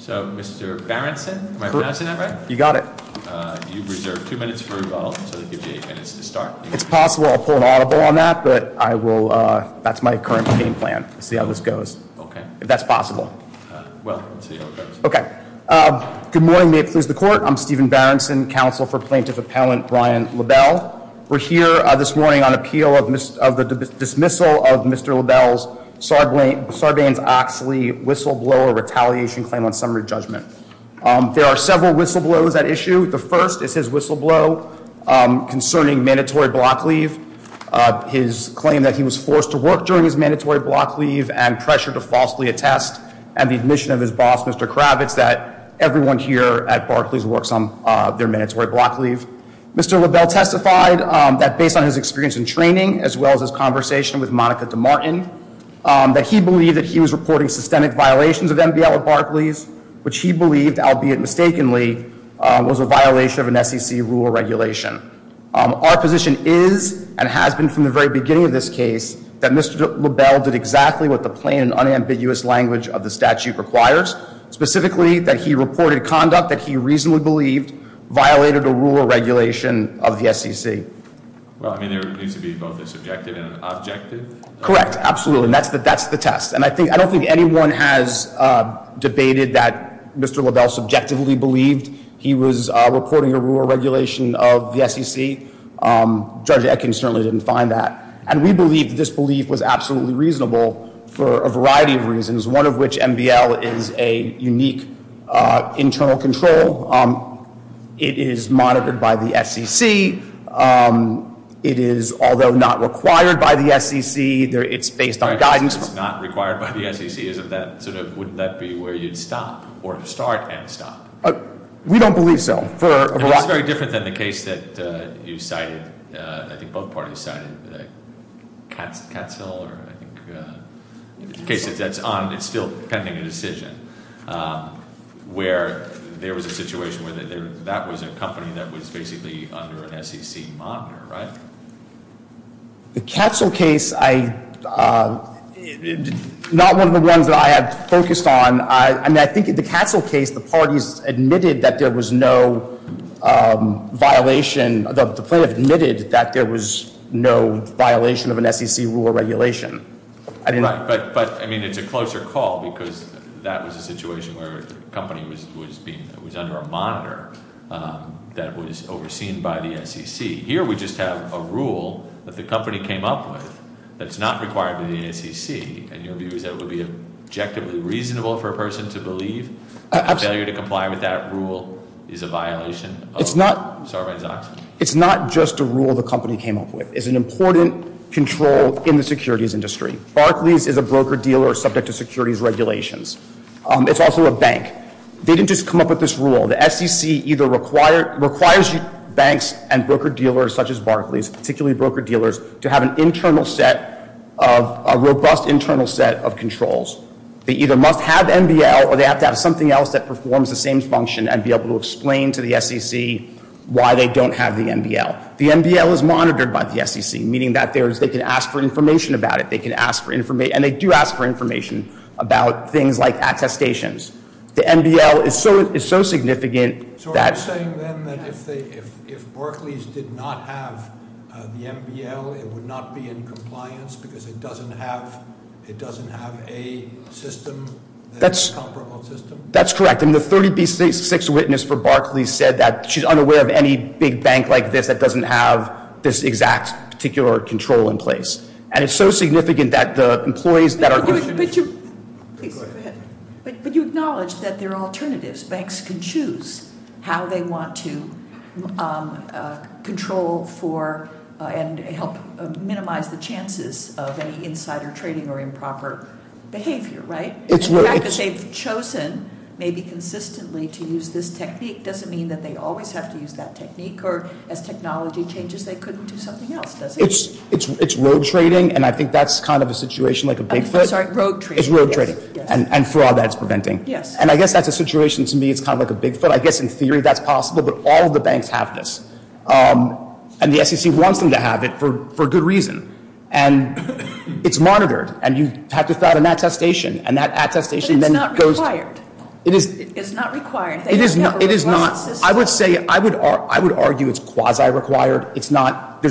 So, Mr. Berenson, am I pronouncing that right? You got it. You've reserved two minutes for rebuttal, so that gives you eight minutes to start. It's possible I'll pull an audible on that, but that's my current game plan to see how this goes, if that's possible. Well, let's see how it goes. Okay. Good morning. May it please the Court. I'm Stephen Berenson, counsel for Plaintiff Appellant Brian LaBelle. We're here this morning on appeal of the dismissal of Mr. LaBelle's Sarbanes-Oxley whistleblower retaliation claim on summary judgment. There are several whistleblows at issue. The first is his whistleblow concerning mandatory block leave, his claim that he was forced to work during his mandatory block leave and pressure to falsely attest, and the admission of his boss, Mr. Kravitz, that everyone here at Barclays works on their mandatory block leave. Mr. LaBelle testified that based on his experience in training, as well as his conversation with Monica DeMartin, that he believed that he was reporting systemic violations of MBL at Barclays, which he believed, albeit mistakenly, was a violation of an SEC rule or regulation. Our position is, and has been from the very beginning of this case, that Mr. LaBelle did exactly what the plain and unambiguous language of the statute requires, specifically that he reported conduct that he reasonably believed violated a rule or regulation of the SEC. Well, I mean, there needs to be both a subjective and an objective. Correct. Absolutely. And that's the test. And I don't think anyone has debated that Mr. LaBelle subjectively believed he was reporting a rule or regulation of the SEC. Judge Etkins certainly didn't find that. And we believe that this belief was absolutely reasonable for a variety of reasons, one of which MBL is a unique internal control. It is monitored by the SEC. It is, although not required by the SEC, it's based on guidance. It's not required by the SEC. Isn't that sort of, wouldn't that be where you'd stop or start and stop? We don't believe so. It's very different than the case that you cited, I think both parties cited, Catsill or I think, in the case that's on, it's still pending a decision, where there was a situation where that was a company that was basically under an SEC monitor, right? The Catsill case, not one of the ones that I have focused on. I mean, I think the Catsill case, the parties admitted that there was no violation, the plaintiff admitted that there was no violation of an SEC rule or regulation. Right, but I mean, it's a closer call because that was a situation where the company was being, it was under a monitor that was overseen by the SEC. Here we just have a rule that the company came up with that's not required by the SEC, and your view is that it would be objectively reasonable for a person to believe? Absolutely. Failure to comply with that rule is a violation of Sarbanes-Oxley? It's not just a rule the company came up with. It's an important control in the securities industry. Barclays is a broker-dealer subject to securities regulations. It's also a bank. They didn't just come up with this rule. The SEC either requires banks and broker-dealers such as Barclays, particularly broker-dealers, to have an internal set of, a robust internal set of controls. They either must have MBL or they have to have something else that performs the same function The MBL is monitored by the SEC, meaning that they can ask for information about it. They can ask for information, and they do ask for information about things like attestations. The MBL is so significant that- So are you saying then that if Barclays did not have the MBL, it would not be in compliance because it doesn't have a system, a comparable system? That's correct. The 30B6 witness for Barclays said that she's unaware of any big bank like this that doesn't have this exact particular control in place. And it's so significant that the employees that are- But you acknowledge that there are alternatives. Banks can choose how they want to control for and help minimize the chances of any insider trading or improper behavior, right? The fact that they've chosen maybe consistently to use this technique doesn't mean that they always have to use that technique or as technology changes they couldn't do something else, does it? It's rogue trading, and I think that's kind of a situation like a Bigfoot. I'm sorry, rogue trading. It's rogue trading, and fraud that it's preventing. Yes. And I guess that's a situation to me it's kind of like a Bigfoot. I guess in theory that's possible, but all of the banks have this. And the SEC wants them to have it for good reason. And it's monitored, and you have to file an attestation, and that attestation then goes to- But it's not required. It is- It's not required. It is not- They don't have a robust system. I would argue it's quasi-required. It's not- There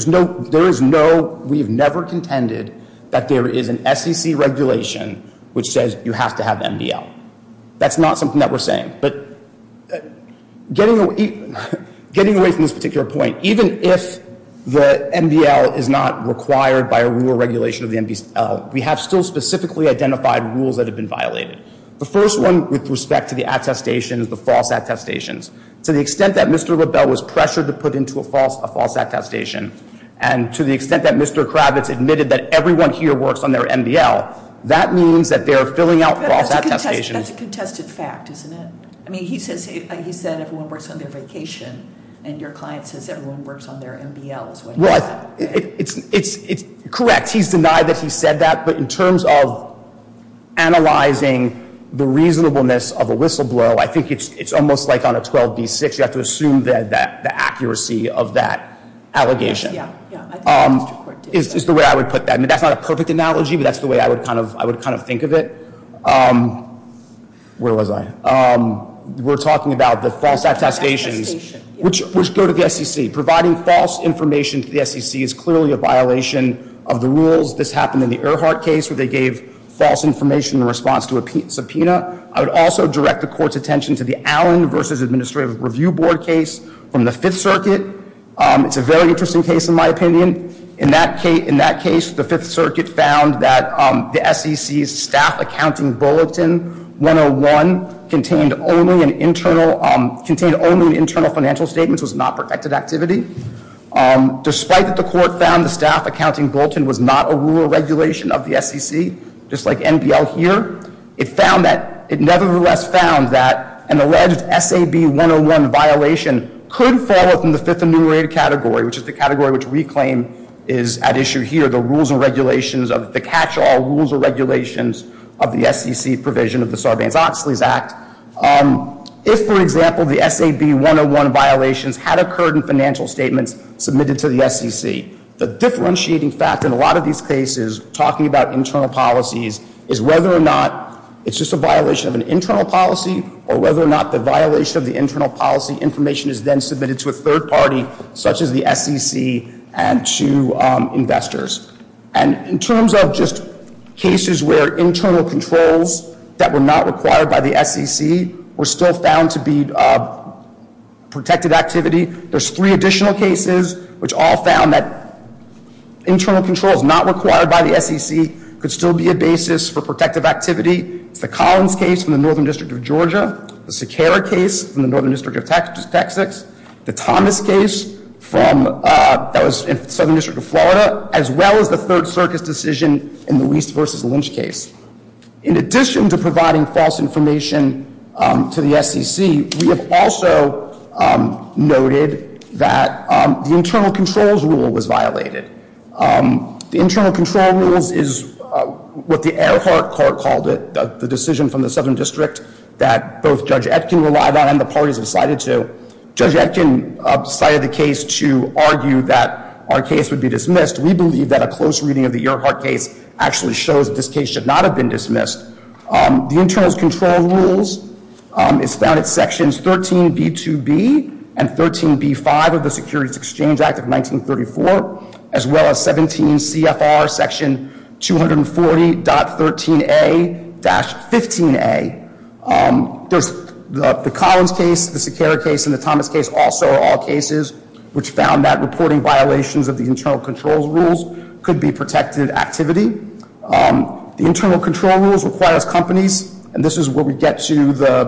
is no- We've never contended that there is an SEC regulation which says you have to have MDL. That's not something that we're saying. But getting away from this particular point, even if the MDL is not required by a rule or regulation of the MDL, we have still specifically identified rules that have been violated. The first one with respect to the attestation is the false attestations. To the extent that Mr. LaBelle was pressured to put into a false attestation, and to the extent that Mr. Kravitz admitted that everyone here works on their MDL, that means that they are filling out false attestations- That's a contested fact, isn't it? I mean, he said everyone works on their vacation, and your client says everyone works on their MDL is what he said. Well, it's correct. He's denied that he said that. But in terms of analyzing the reasonableness of a whistleblower, I think it's almost like on a 12B6. You have to assume the accuracy of that allegation. Yeah, yeah. I think the district court did that. Is the way I would put that. I mean, that's not a perfect analogy, but that's the way I would kind of think of it. Where was I? We're talking about the false attestations, which go to the SEC. Providing false information to the SEC is clearly a violation of the rules. This happened in the Earhart case where they gave false information in response to a subpoena. I would also direct the court's attention to the Allen v. Administrative Review Board case from the Fifth Circuit. It's a very interesting case, in my opinion. In that case, the Fifth Circuit found that the SEC's Staff Accounting Bulletin 101 contained only an internal financial statement. It was not protected activity. Despite that the court found the Staff Accounting Bulletin was not a rule or regulation of the SEC, just like NBL here, it nevertheless found that an alleged SAB 101 violation could fall within the fifth enumerated category, which is the category which we claim is at issue here, the rules and regulations, the catch-all rules and regulations of the SEC provision of the Sarbanes-Oxley Act. If, for example, the SAB 101 violations had occurred in financial statements submitted to the SEC, the differentiating factor in a lot of these cases, talking about internal policies, is whether or not it's just a violation of an internal policy, or whether or not the violation of the internal policy information is then submitted to a third party, such as the SEC and to investors. And in terms of just cases where internal controls that were not required by the SEC were still found to be protected activity, there's three additional cases which all found that internal controls not required by the SEC could still be a basis for protective activity. It's the Collins case from the Northern District of Georgia, the Siqueira case from the Northern District of Texas, the Thomas case from the Southern District of Florida, as well as the Third Circus decision in the Wiest v. Lynch case. In addition to providing false information to the SEC, we have also noted that the internal controls rule was violated. The internal control rules is what the Earhart court called it, the decision from the Southern District that both Judge Etkin relied on and the parties decided to. Judge Etkin decided the case to argue that our case would be dismissed. We believe that a close reading of the Earhart case actually shows that this case should not have been dismissed. The internal control rules is found in Sections 13b-2b and 13b-5 of the Securities Exchange Act of 1934, as well as 17 CFR Section 240.13a-15a. The Collins case, the Siqueira case, and the Thomas case also are all cases which found that reporting violations of the internal controls rules could be protected activity. The internal control rules requires companies, and this is where we get to the,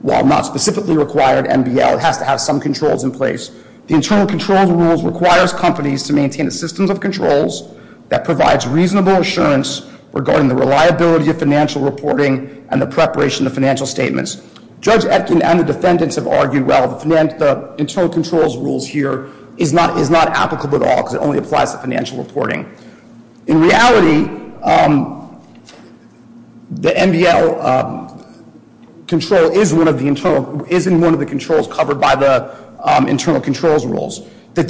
while not specifically required NBL, it has to have some controls in place. The internal controls rules requires companies to maintain a system of controls that provides reasonable assurance regarding the reliability of financial reporting and the preparation of financial statements. Judge Etkin and the defendants have argued, well, the internal controls rules here is not applicable at all because it only applies to financial reporting. In reality, the NBL control is in one of the controls covered by the internal controls rules. In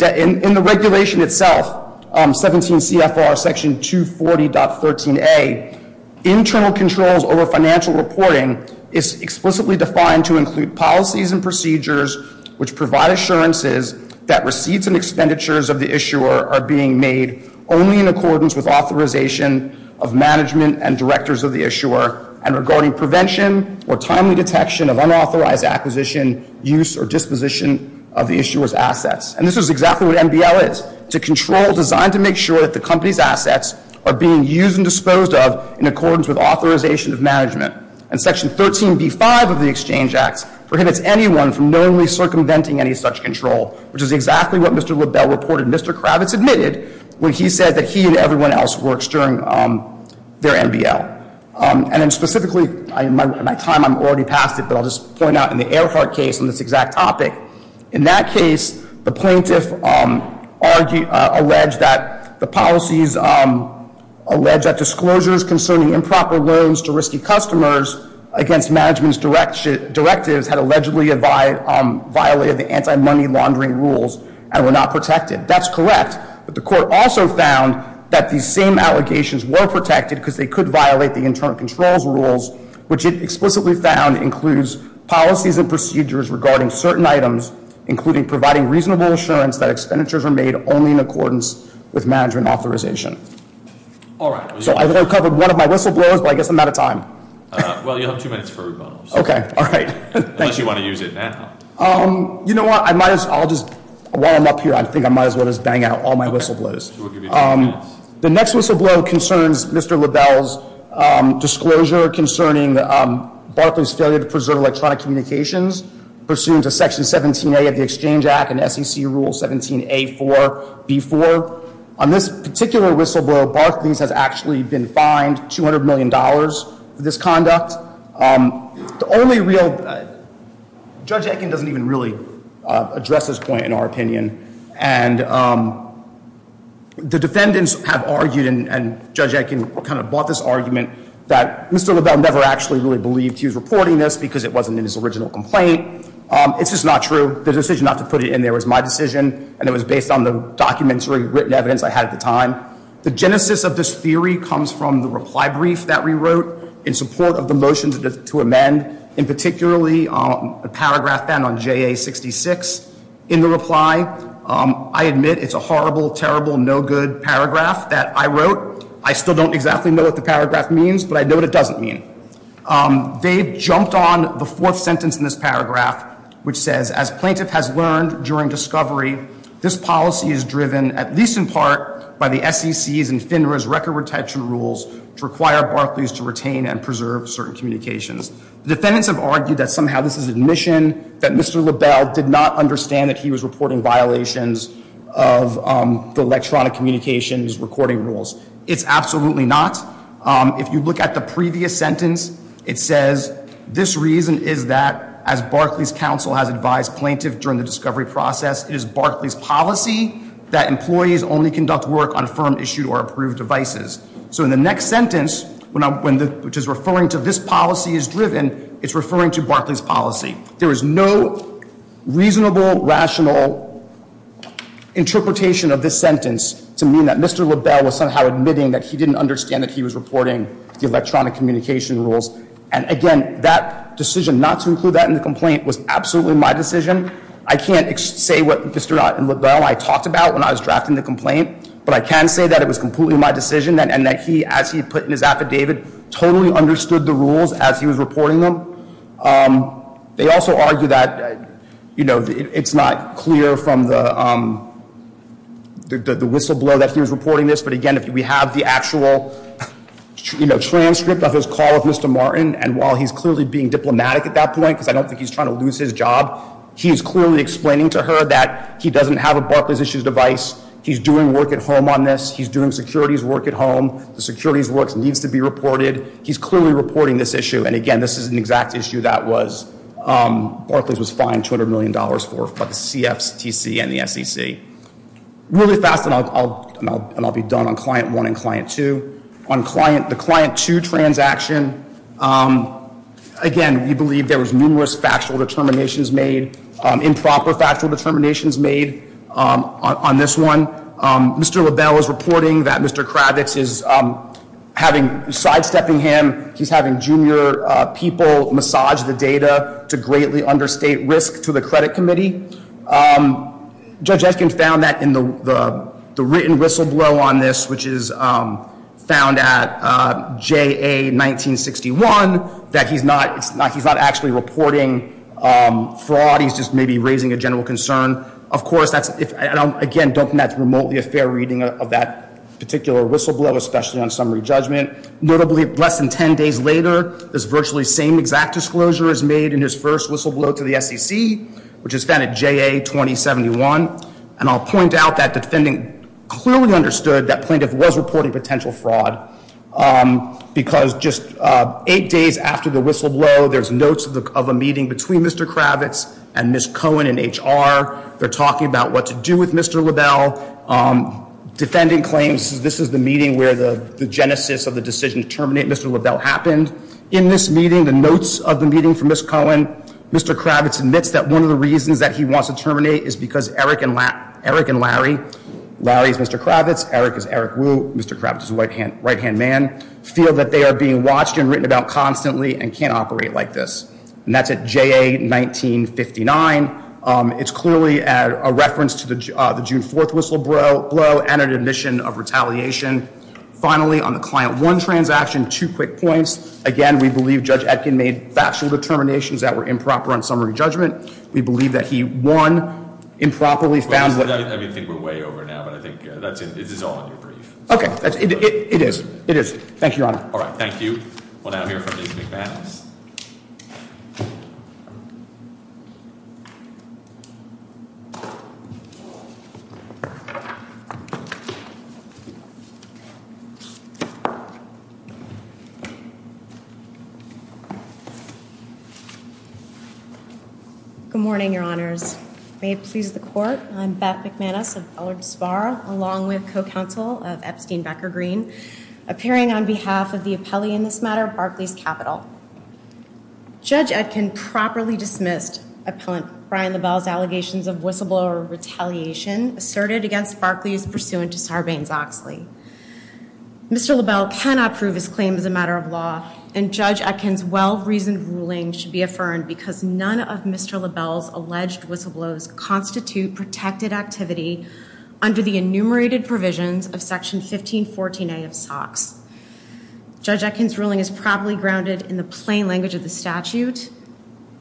the regulation itself, 17 CFR Section 240.13a, internal controls over financial reporting is explicitly defined to include policies and procedures which provide assurances that receipts and expenditures of the issuer are being made only in accordance with authorization of management and directors of the issuer and regarding prevention or timely detection of unauthorized acquisition, use, or disposition of the issuer's assets. And this is exactly what NBL is. It's a control designed to make sure that the company's assets are being used and disposed of in accordance with authorization of management. And Section 13b.5 of the Exchange Act prohibits anyone from knowingly circumventing any such control, which is exactly what Mr. LaBelle reported Mr. Kravitz admitted when he said that he and everyone else works during their NBL. And then specifically, my time, I'm already past it, but I'll just point out in the Earhart case on this exact topic, in that case, the plaintiff alleged that the policies alleged that disclosures concerning improper loans to risky customers against management's directives had allegedly violated the anti-money laundering rules and were not protected. That's correct, but the court also found that these same allegations were protected because they could violate the internal controls rules, which it explicitly found includes policies and procedures regarding certain items, including providing reasonable assurance that expenditures are made only in accordance with management authorization. All right. So I've covered one of my whistleblowers, but I guess I'm out of time. Well, you have two minutes for a rebuttal. Okay. All right. Unless you want to use it now. You know what? I might as well just, while I'm up here, I think I might as well just bang out all my whistleblowers. We'll give you two minutes. The next whistleblower concerns Mr. LaBelle's disclosure concerning Barclays' failure to preserve electronic communications pursuant to Section 17A of the Exchange Act and SEC Rule 17A4-B4. On this particular whistleblower, Barclays has actually been fined $200 million for this conduct. The only real, Judge Ekin doesn't even really address this point in our opinion. And the defendants have argued, and Judge Ekin kind of bought this argument, that Mr. LaBelle never actually really believed he was reporting this because it wasn't in his original complaint. It's just not true. The decision not to put it in there was my decision, and it was based on the documentary written evidence I had at the time. The genesis of this theory comes from the reply brief that we wrote in support of the motion to amend, and particularly a paragraph ban on JA-66. In the reply, I admit it's a horrible, terrible, no-good paragraph that I wrote. I still don't exactly know what the paragraph means, but I know what it doesn't mean. They jumped on the fourth sentence in this paragraph, which says, As plaintiff has learned during discovery, this policy is driven, at least in part, by the SEC's and FINRA's record retention rules to require Barclays to retain and preserve certain communications. The defendants have argued that somehow this is admission that Mr. LaBelle did not understand that he was reporting violations of the electronic communications recording rules. It's absolutely not. If you look at the previous sentence, it says, This reason is that, as Barclays' counsel has advised plaintiff during the discovery process, it is Barclays' policy that employees only conduct work on firm-issued or approved devices. So in the next sentence, which is referring to this policy is driven, it's referring to Barclays' policy. There is no reasonable, rational interpretation of this sentence to mean that Mr. LaBelle was somehow admitting that he didn't understand that he was reporting the electronic communication rules. And again, that decision not to include that in the complaint was absolutely my decision. I can't say what Mr. LaBelle and I talked about when I was drafting the complaint, but I can say that it was completely my decision and that he, as he put in his affidavit, totally understood the rules as he was reporting them. They also argue that it's not clear from the whistleblower that he was reporting this, but again, if we have the actual transcript of his call with Mr. Martin, and while he's clearly being diplomatic at that point, because I don't think he's trying to lose his job, he's clearly explaining to her that he doesn't have a Barclays-issued device. He's doing work at home on this. He's doing securities work at home. The securities work needs to be reported. He's clearly reporting this issue. And again, this is an exact issue that Barclays was fined $200 million for by the CFTC and the SEC. Really fast, and I'll be done on Client 1 and Client 2. On the Client 2 transaction, again, we believe there was numerous factual determinations made, improper factual determinations made on this one. Mr. LaBelle is reporting that Mr. Kravitz is having, sidestepping him. He's having junior people massage the data to greatly understate risk to the credit committee. Judge Eskin found that in the written whistleblow on this, which is found at J.A. 1961, that he's not actually reporting fraud. He's just maybe raising a general concern. Of course, again, I don't think that's remotely a fair reading of that particular whistleblow, especially on summary judgment. Notably, less than 10 days later, this virtually same exact disclosure is made in his first whistleblow to the SEC, which is found at J.A. 2071. And I'll point out that the defendant clearly understood that plaintiff was reporting potential fraud, because just eight days after the whistleblow, there's notes of a meeting between Mr. Kravitz and Ms. Cohen in H.R. They're talking about what to do with Mr. LaBelle. Defendant claims this is the meeting where the genesis of the decision to terminate Mr. LaBelle happened. In this meeting, the notes of the meeting for Ms. Cohen, Mr. Kravitz admits that one of the reasons that he wants to terminate is because Eric and Larry, Larry is Mr. Kravitz, Eric is Eric Wu, Mr. Kravitz is a right-hand man, feel that they are being watched and written about constantly and can't operate like this. And that's at J.A. 1959. It's clearly a reference to the June 4th whistleblow and an admission of retaliation. Finally, on the Client 1 transaction, two quick points. Again, we believe Judge Etkin made factual determinations that were improper on summary judgment. We believe that he won improperly. I think we're way over now, but I think this is all in your brief. Okay. It is. It is. Thank you, Your Honor. All right. Thank you. We'll now hear from Ms. McManus. Good morning, Your Honors. May it please the Court. I'm Beth McManus of Ellard Sparr, along with co-counsel of Epstein Becker-Green, appearing on behalf of the appellee in this matter, Barclays Capitol. Judge Etkin properly dismissed appellant Brian LaBelle's allegations of whistleblower retaliation asserted against Barclays pursuant to Sarbanes-Oxley. Mr. LaBelle cannot prove his claim as a matter of law, and Judge Etkin's well-reasoned ruling should be affirmed because none of Mr. LaBelle's alleged whistleblows constitute protected activity under the enumerated provisions of Section 1514A of SOX. Judge Etkin's ruling is probably grounded in the plain language of the statute,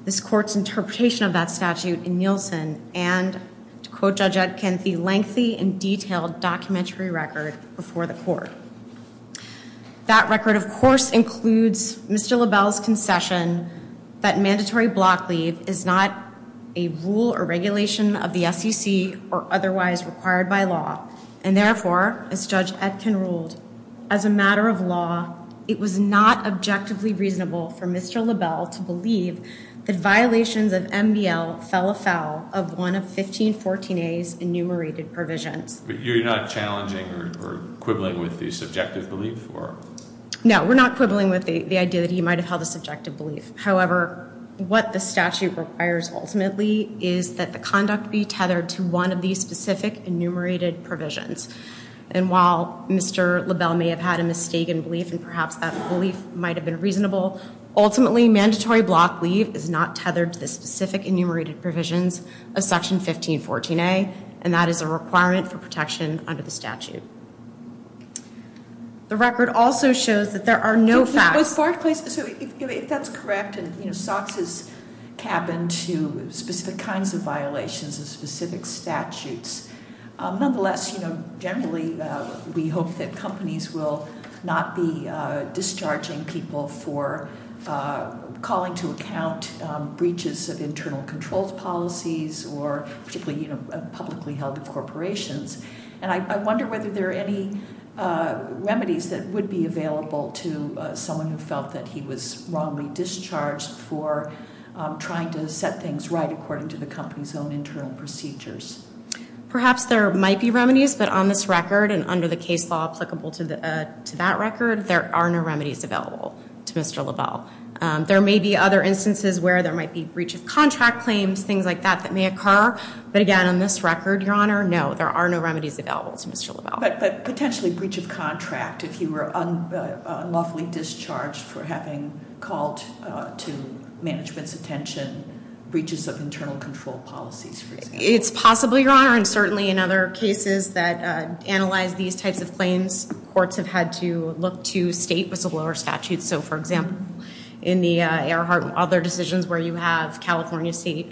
this Court's interpretation of that statute in Nielsen, and, to quote Judge Etkin, the lengthy and detailed documentary record before the Court. That record, of course, includes Mr. LaBelle's concession that mandatory block leave is not a rule or regulation of the SEC or otherwise required by law, and therefore, as Judge Etkin ruled, as a matter of law, it was not objectively reasonable for Mr. LaBelle to believe that violations of MBL fell afoul of one of 1514A's enumerated provisions. But you're not challenging or quibbling with the subjective belief? No, we're not quibbling with the idea that he might have held a subjective belief. However, what the statute requires, ultimately, is that the conduct be tethered to one of these specific enumerated provisions. And while Mr. LaBelle may have had a mistaken belief, and perhaps that belief might have been reasonable, ultimately, mandatory block leave is not tethered to the specific enumerated provisions of Section 1514A, and that is a requirement for protection under the statute. The record also shows that there are no facts. Ms. Barclay, if that's correct, and SOCS is capping to specific kinds of violations and specific statutes, nonetheless, generally, we hope that companies will not be discharging people for calling to account breaches of internal controls policies or particularly publicly held corporations. And I wonder whether there are any remedies that would be available to someone who felt that he was wrongly discharged for trying to set things right according to the company's own internal procedures. Perhaps there might be remedies, but on this record and under the case law applicable to that record, there are no remedies available to Mr. LaBelle. There may be other instances where there might be breach of contract claims, things like that, that may occur. But again, on this record, Your Honor, no, there are no remedies available to Mr. LaBelle. But potentially breach of contract if you were unlawfully discharged for having called to management's attention breaches of internal control policies. It's possible, Your Honor, and certainly in other cases that analyze these types of claims, courts have had to look to state whistleblower statutes. So, for example, in the Earhart and other decisions where you have California state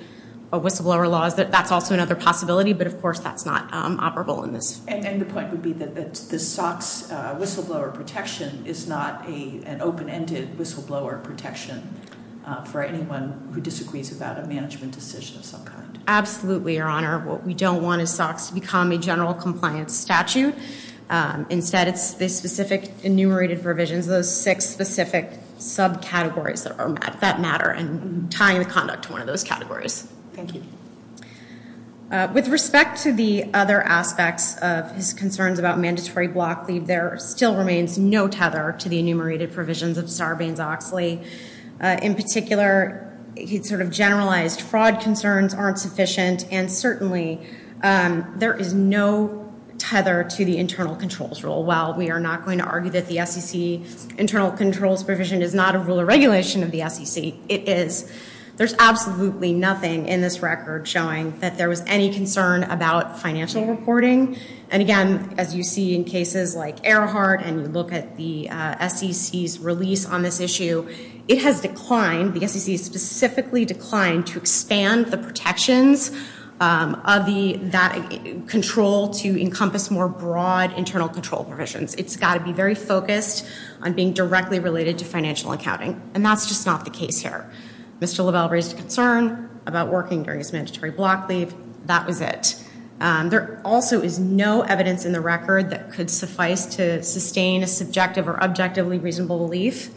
whistleblower laws, that's also another possibility, but of course that's not operable in this. And the point would be that the SOX whistleblower protection is not an open-ended whistleblower protection for anyone who disagrees about a management decision of some kind. Absolutely, Your Honor. What we don't want is SOX to become a general compliance statute. Instead, it's the specific enumerated provisions, those six specific subcategories that matter and tying the conduct to one of those categories. Thank you. With respect to the other aspects of his concerns about mandatory block leave, there still remains no tether to the enumerated provisions of Sarbanes-Oxley. In particular, he sort of generalized fraud concerns aren't sufficient, and certainly there is no tether to the internal controls rule. While we are not going to argue that the SEC internal controls provision is not a rule or regulation of the SEC, it is. There's absolutely nothing in this record showing that there was any concern about financial reporting. And again, as you see in cases like Earhart and you look at the SEC's release on this issue, it has declined, the SEC has specifically declined to expand the protections of that control to encompass more broad internal control provisions. It's got to be very focused on being directly related to financial accounting, and that's just not the case here. Mr. Lovell raised a concern about working during his mandatory block leave. That was it. There also is no evidence in the record that could suffice to sustain a subjective or objectively reasonable belief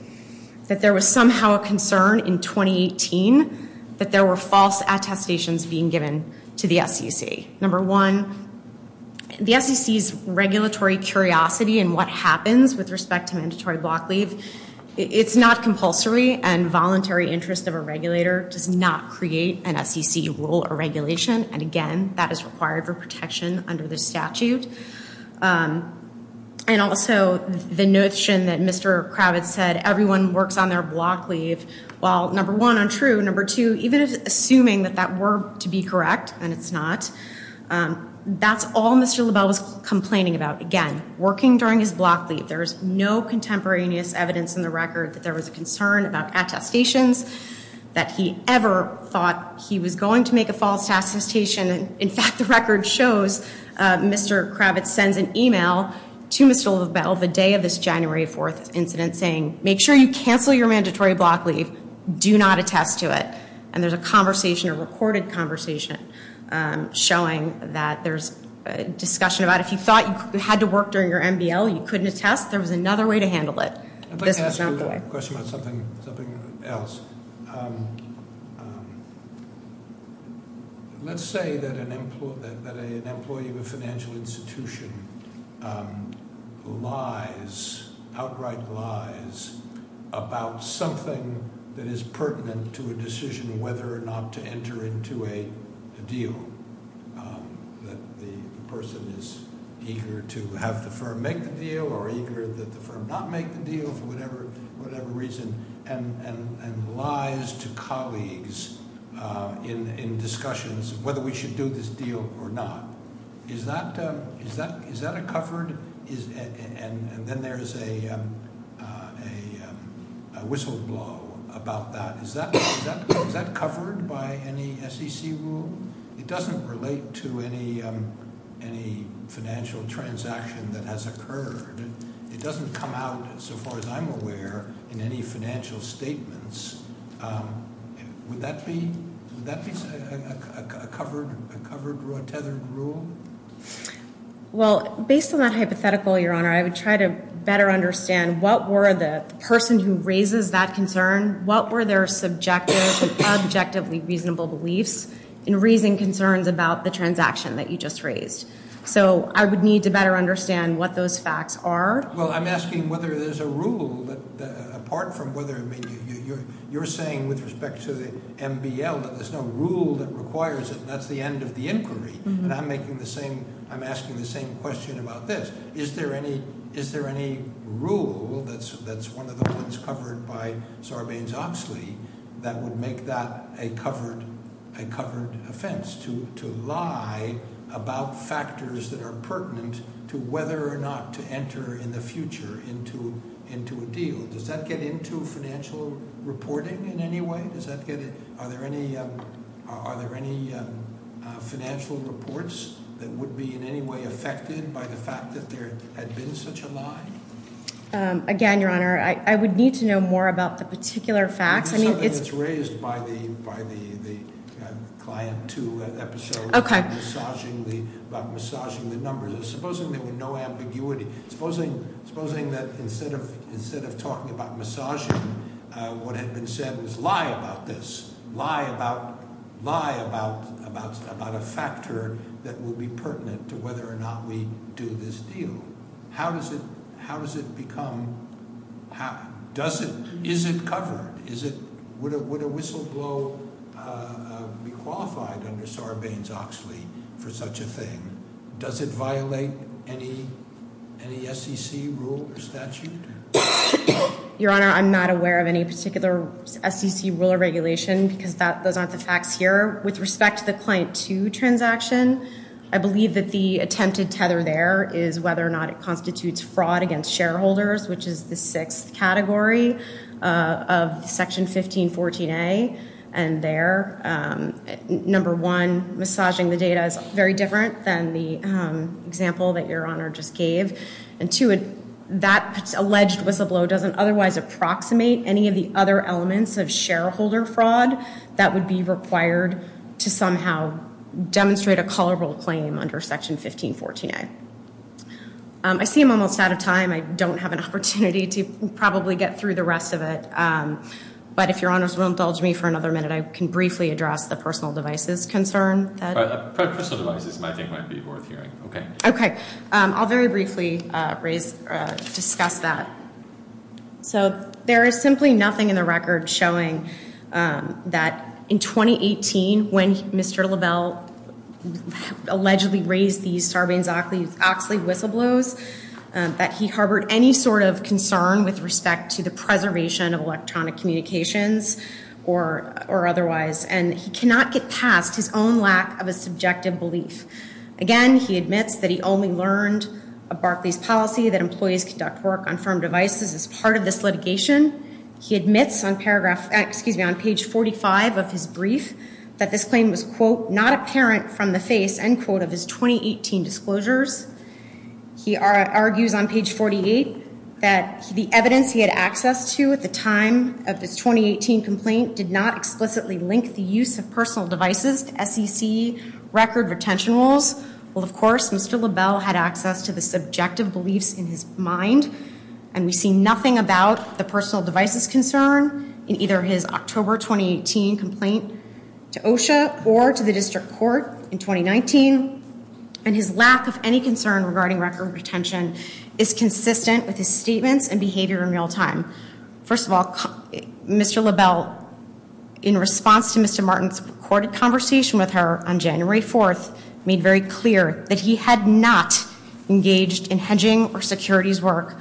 that there was somehow a concern in 2018 that there were false attestations being given to the SEC. Number one, the SEC's regulatory curiosity and what happens with respect to mandatory block leave, it's not compulsory and voluntary interest of a regulator does not create an SEC rule or regulation. And again, that is required for protection under the statute. And also the notion that Mr. Kravitz said everyone works on their block leave. Well, number one, untrue. Number two, even assuming that that were to be correct, and it's not, that's all Mr. Lovell was complaining about. Again, working during his block leave, there is no contemporaneous evidence in the record that there was a concern about attestations that he ever thought he was going to make a false attestation. In fact, the record shows Mr. Kravitz sends an e-mail to Mr. Lovell the day of this January 4th incident saying, make sure you cancel your mandatory block leave. Do not attest to it. And there's a conversation, a recorded conversation, showing that there's discussion about if you thought you had to work during your MBL, you couldn't attest, there was another way to handle it. This was not the way. I have a question about something else. Let's say that an employee of a financial institution who lies, outright lies, about something that is pertinent to a decision whether or not to enter into a deal, that the person is eager to have the firm make the deal or eager that the firm not make the deal for whatever reason, and lies to colleagues in discussions whether we should do this deal or not. Is that a covered? And then there's a whistleblow about that. Is that covered by any SEC rule? It doesn't relate to any financial transaction that has occurred. It doesn't come out, so far as I'm aware, in any financial statements. Would that be a covered or a tethered rule? Well, based on that hypothetical, Your Honor, I would try to better understand what were the person who raises that concern, what were their subjective, objectively reasonable beliefs, in raising concerns about the transaction that you just raised. So I would need to better understand what those facts are. Well, I'm asking whether there's a rule apart from whether, I mean, you're saying with respect to the MBL that there's no rule that requires it and that's the end of the inquiry. And I'm asking the same question about this. Is there any rule that's one of the ones covered by Sarbanes-Oxley that would make that a covered offense, to lie about factors that are pertinent to whether or not to enter in the future into a deal? Does that get into financial reporting in any way? Does that get it? Are there any financial reports that would be in any way affected by the fact that there had been such a lie? Again, Your Honor, I would need to know more about the particular facts. I mean, it's- It's something that's raised by the Client 2 episode. Okay. About massaging the numbers. Supposing there were no ambiguity. Supposing that instead of talking about massaging, what had been said was lie about this. Lie about a factor that would be pertinent to whether or not we do this deal. How does it become- Is it covered? Would a whistleblower be qualified under Sarbanes-Oxley for such a thing? Does it violate any SEC rule or statute? Your Honor, I'm not aware of any particular SEC rule or regulation because those aren't the facts here. With respect to the Client 2 transaction, I believe that the attempted tether there is whether or not it constitutes fraud against shareholders, which is the sixth category of Section 1514A. And there, number one, massaging the data is very different than the example that Your Honor just gave. And two, that alleged whistleblower doesn't otherwise approximate any of the other elements of shareholder fraud that would be required to somehow demonstrate a colorable claim under Section 1514A. I see I'm almost out of time. I don't have an opportunity to probably get through the rest of it. But if Your Honors won't indulge me for another minute, I can briefly address the personal devices concern. Personal devices I think might be worth hearing. Okay. I'll very briefly discuss that. So there is simply nothing in the record showing that in 2018, when Mr. LaBelle allegedly raised these Sarbanes-Oxley whistleblows, that he harbored any sort of concern with respect to the preservation of electronic communications or otherwise. And he cannot get past his own lack of a subjective belief. Again, he admits that he only learned of Barclays' policy that employees conduct work on firm devices as part of this litigation. He admits on paragraph, excuse me, on page 45 of his brief, that this claim was, quote, not apparent from the face, end quote, of his 2018 disclosures. He argues on page 48 that the evidence he had access to at the time of his 2018 complaint did not explicitly link the use of personal devices to SEC record retention rules. Well, of course, Mr. LaBelle had access to the subjective beliefs in his mind. And we see nothing about the personal devices concern in either his October 2018 complaint to OSHA or to the district court in 2019. And his lack of any concern regarding record retention is consistent with his statements and behavior in real time. First of all, Mr. LaBelle, in response to Mr. Martin's recorded conversation with her on January 4th, made very clear that he had not engaged in hedging or securities work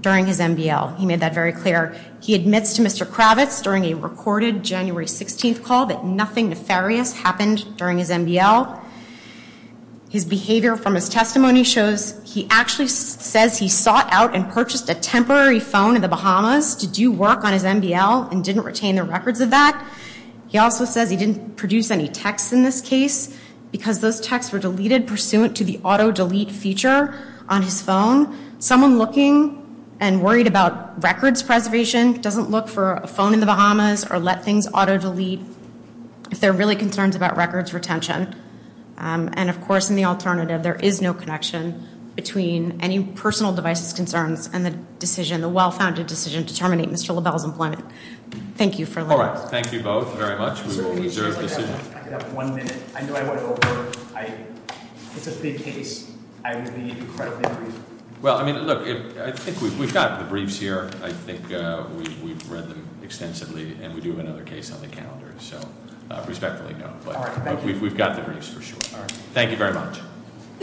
during his MBL. He made that very clear. He admits to Mr. Kravitz during a recorded January 16th call that nothing nefarious happened during his MBL. His behavior from his testimony shows he actually says he sought out and purchased a temporary phone in the Bahamas to do work on his MBL and didn't retain the records of that. He also says he didn't produce any texts in this case because those texts were deleted pursuant to the auto delete feature on his phone. Someone looking and worried about records preservation doesn't look for a phone in the Bahamas or let things auto delete if they're really concerned about records retention. And, of course, in the alternative, there is no connection between any personal devices concerns and the decision, the well-founded decision to terminate Mr. LaBelle's employment. Thank you for letting us- All right. Thank you both very much. We've observed this- Sir, can we just have one minute? I know I went over. It's a big case. I really need to correct the brief. Well, I mean, look, I think we've got the briefs here. I think we've read them extensively, and we do have another case on the calendar. So respectfully, no. But we've got the briefs for sure. Thank you very much.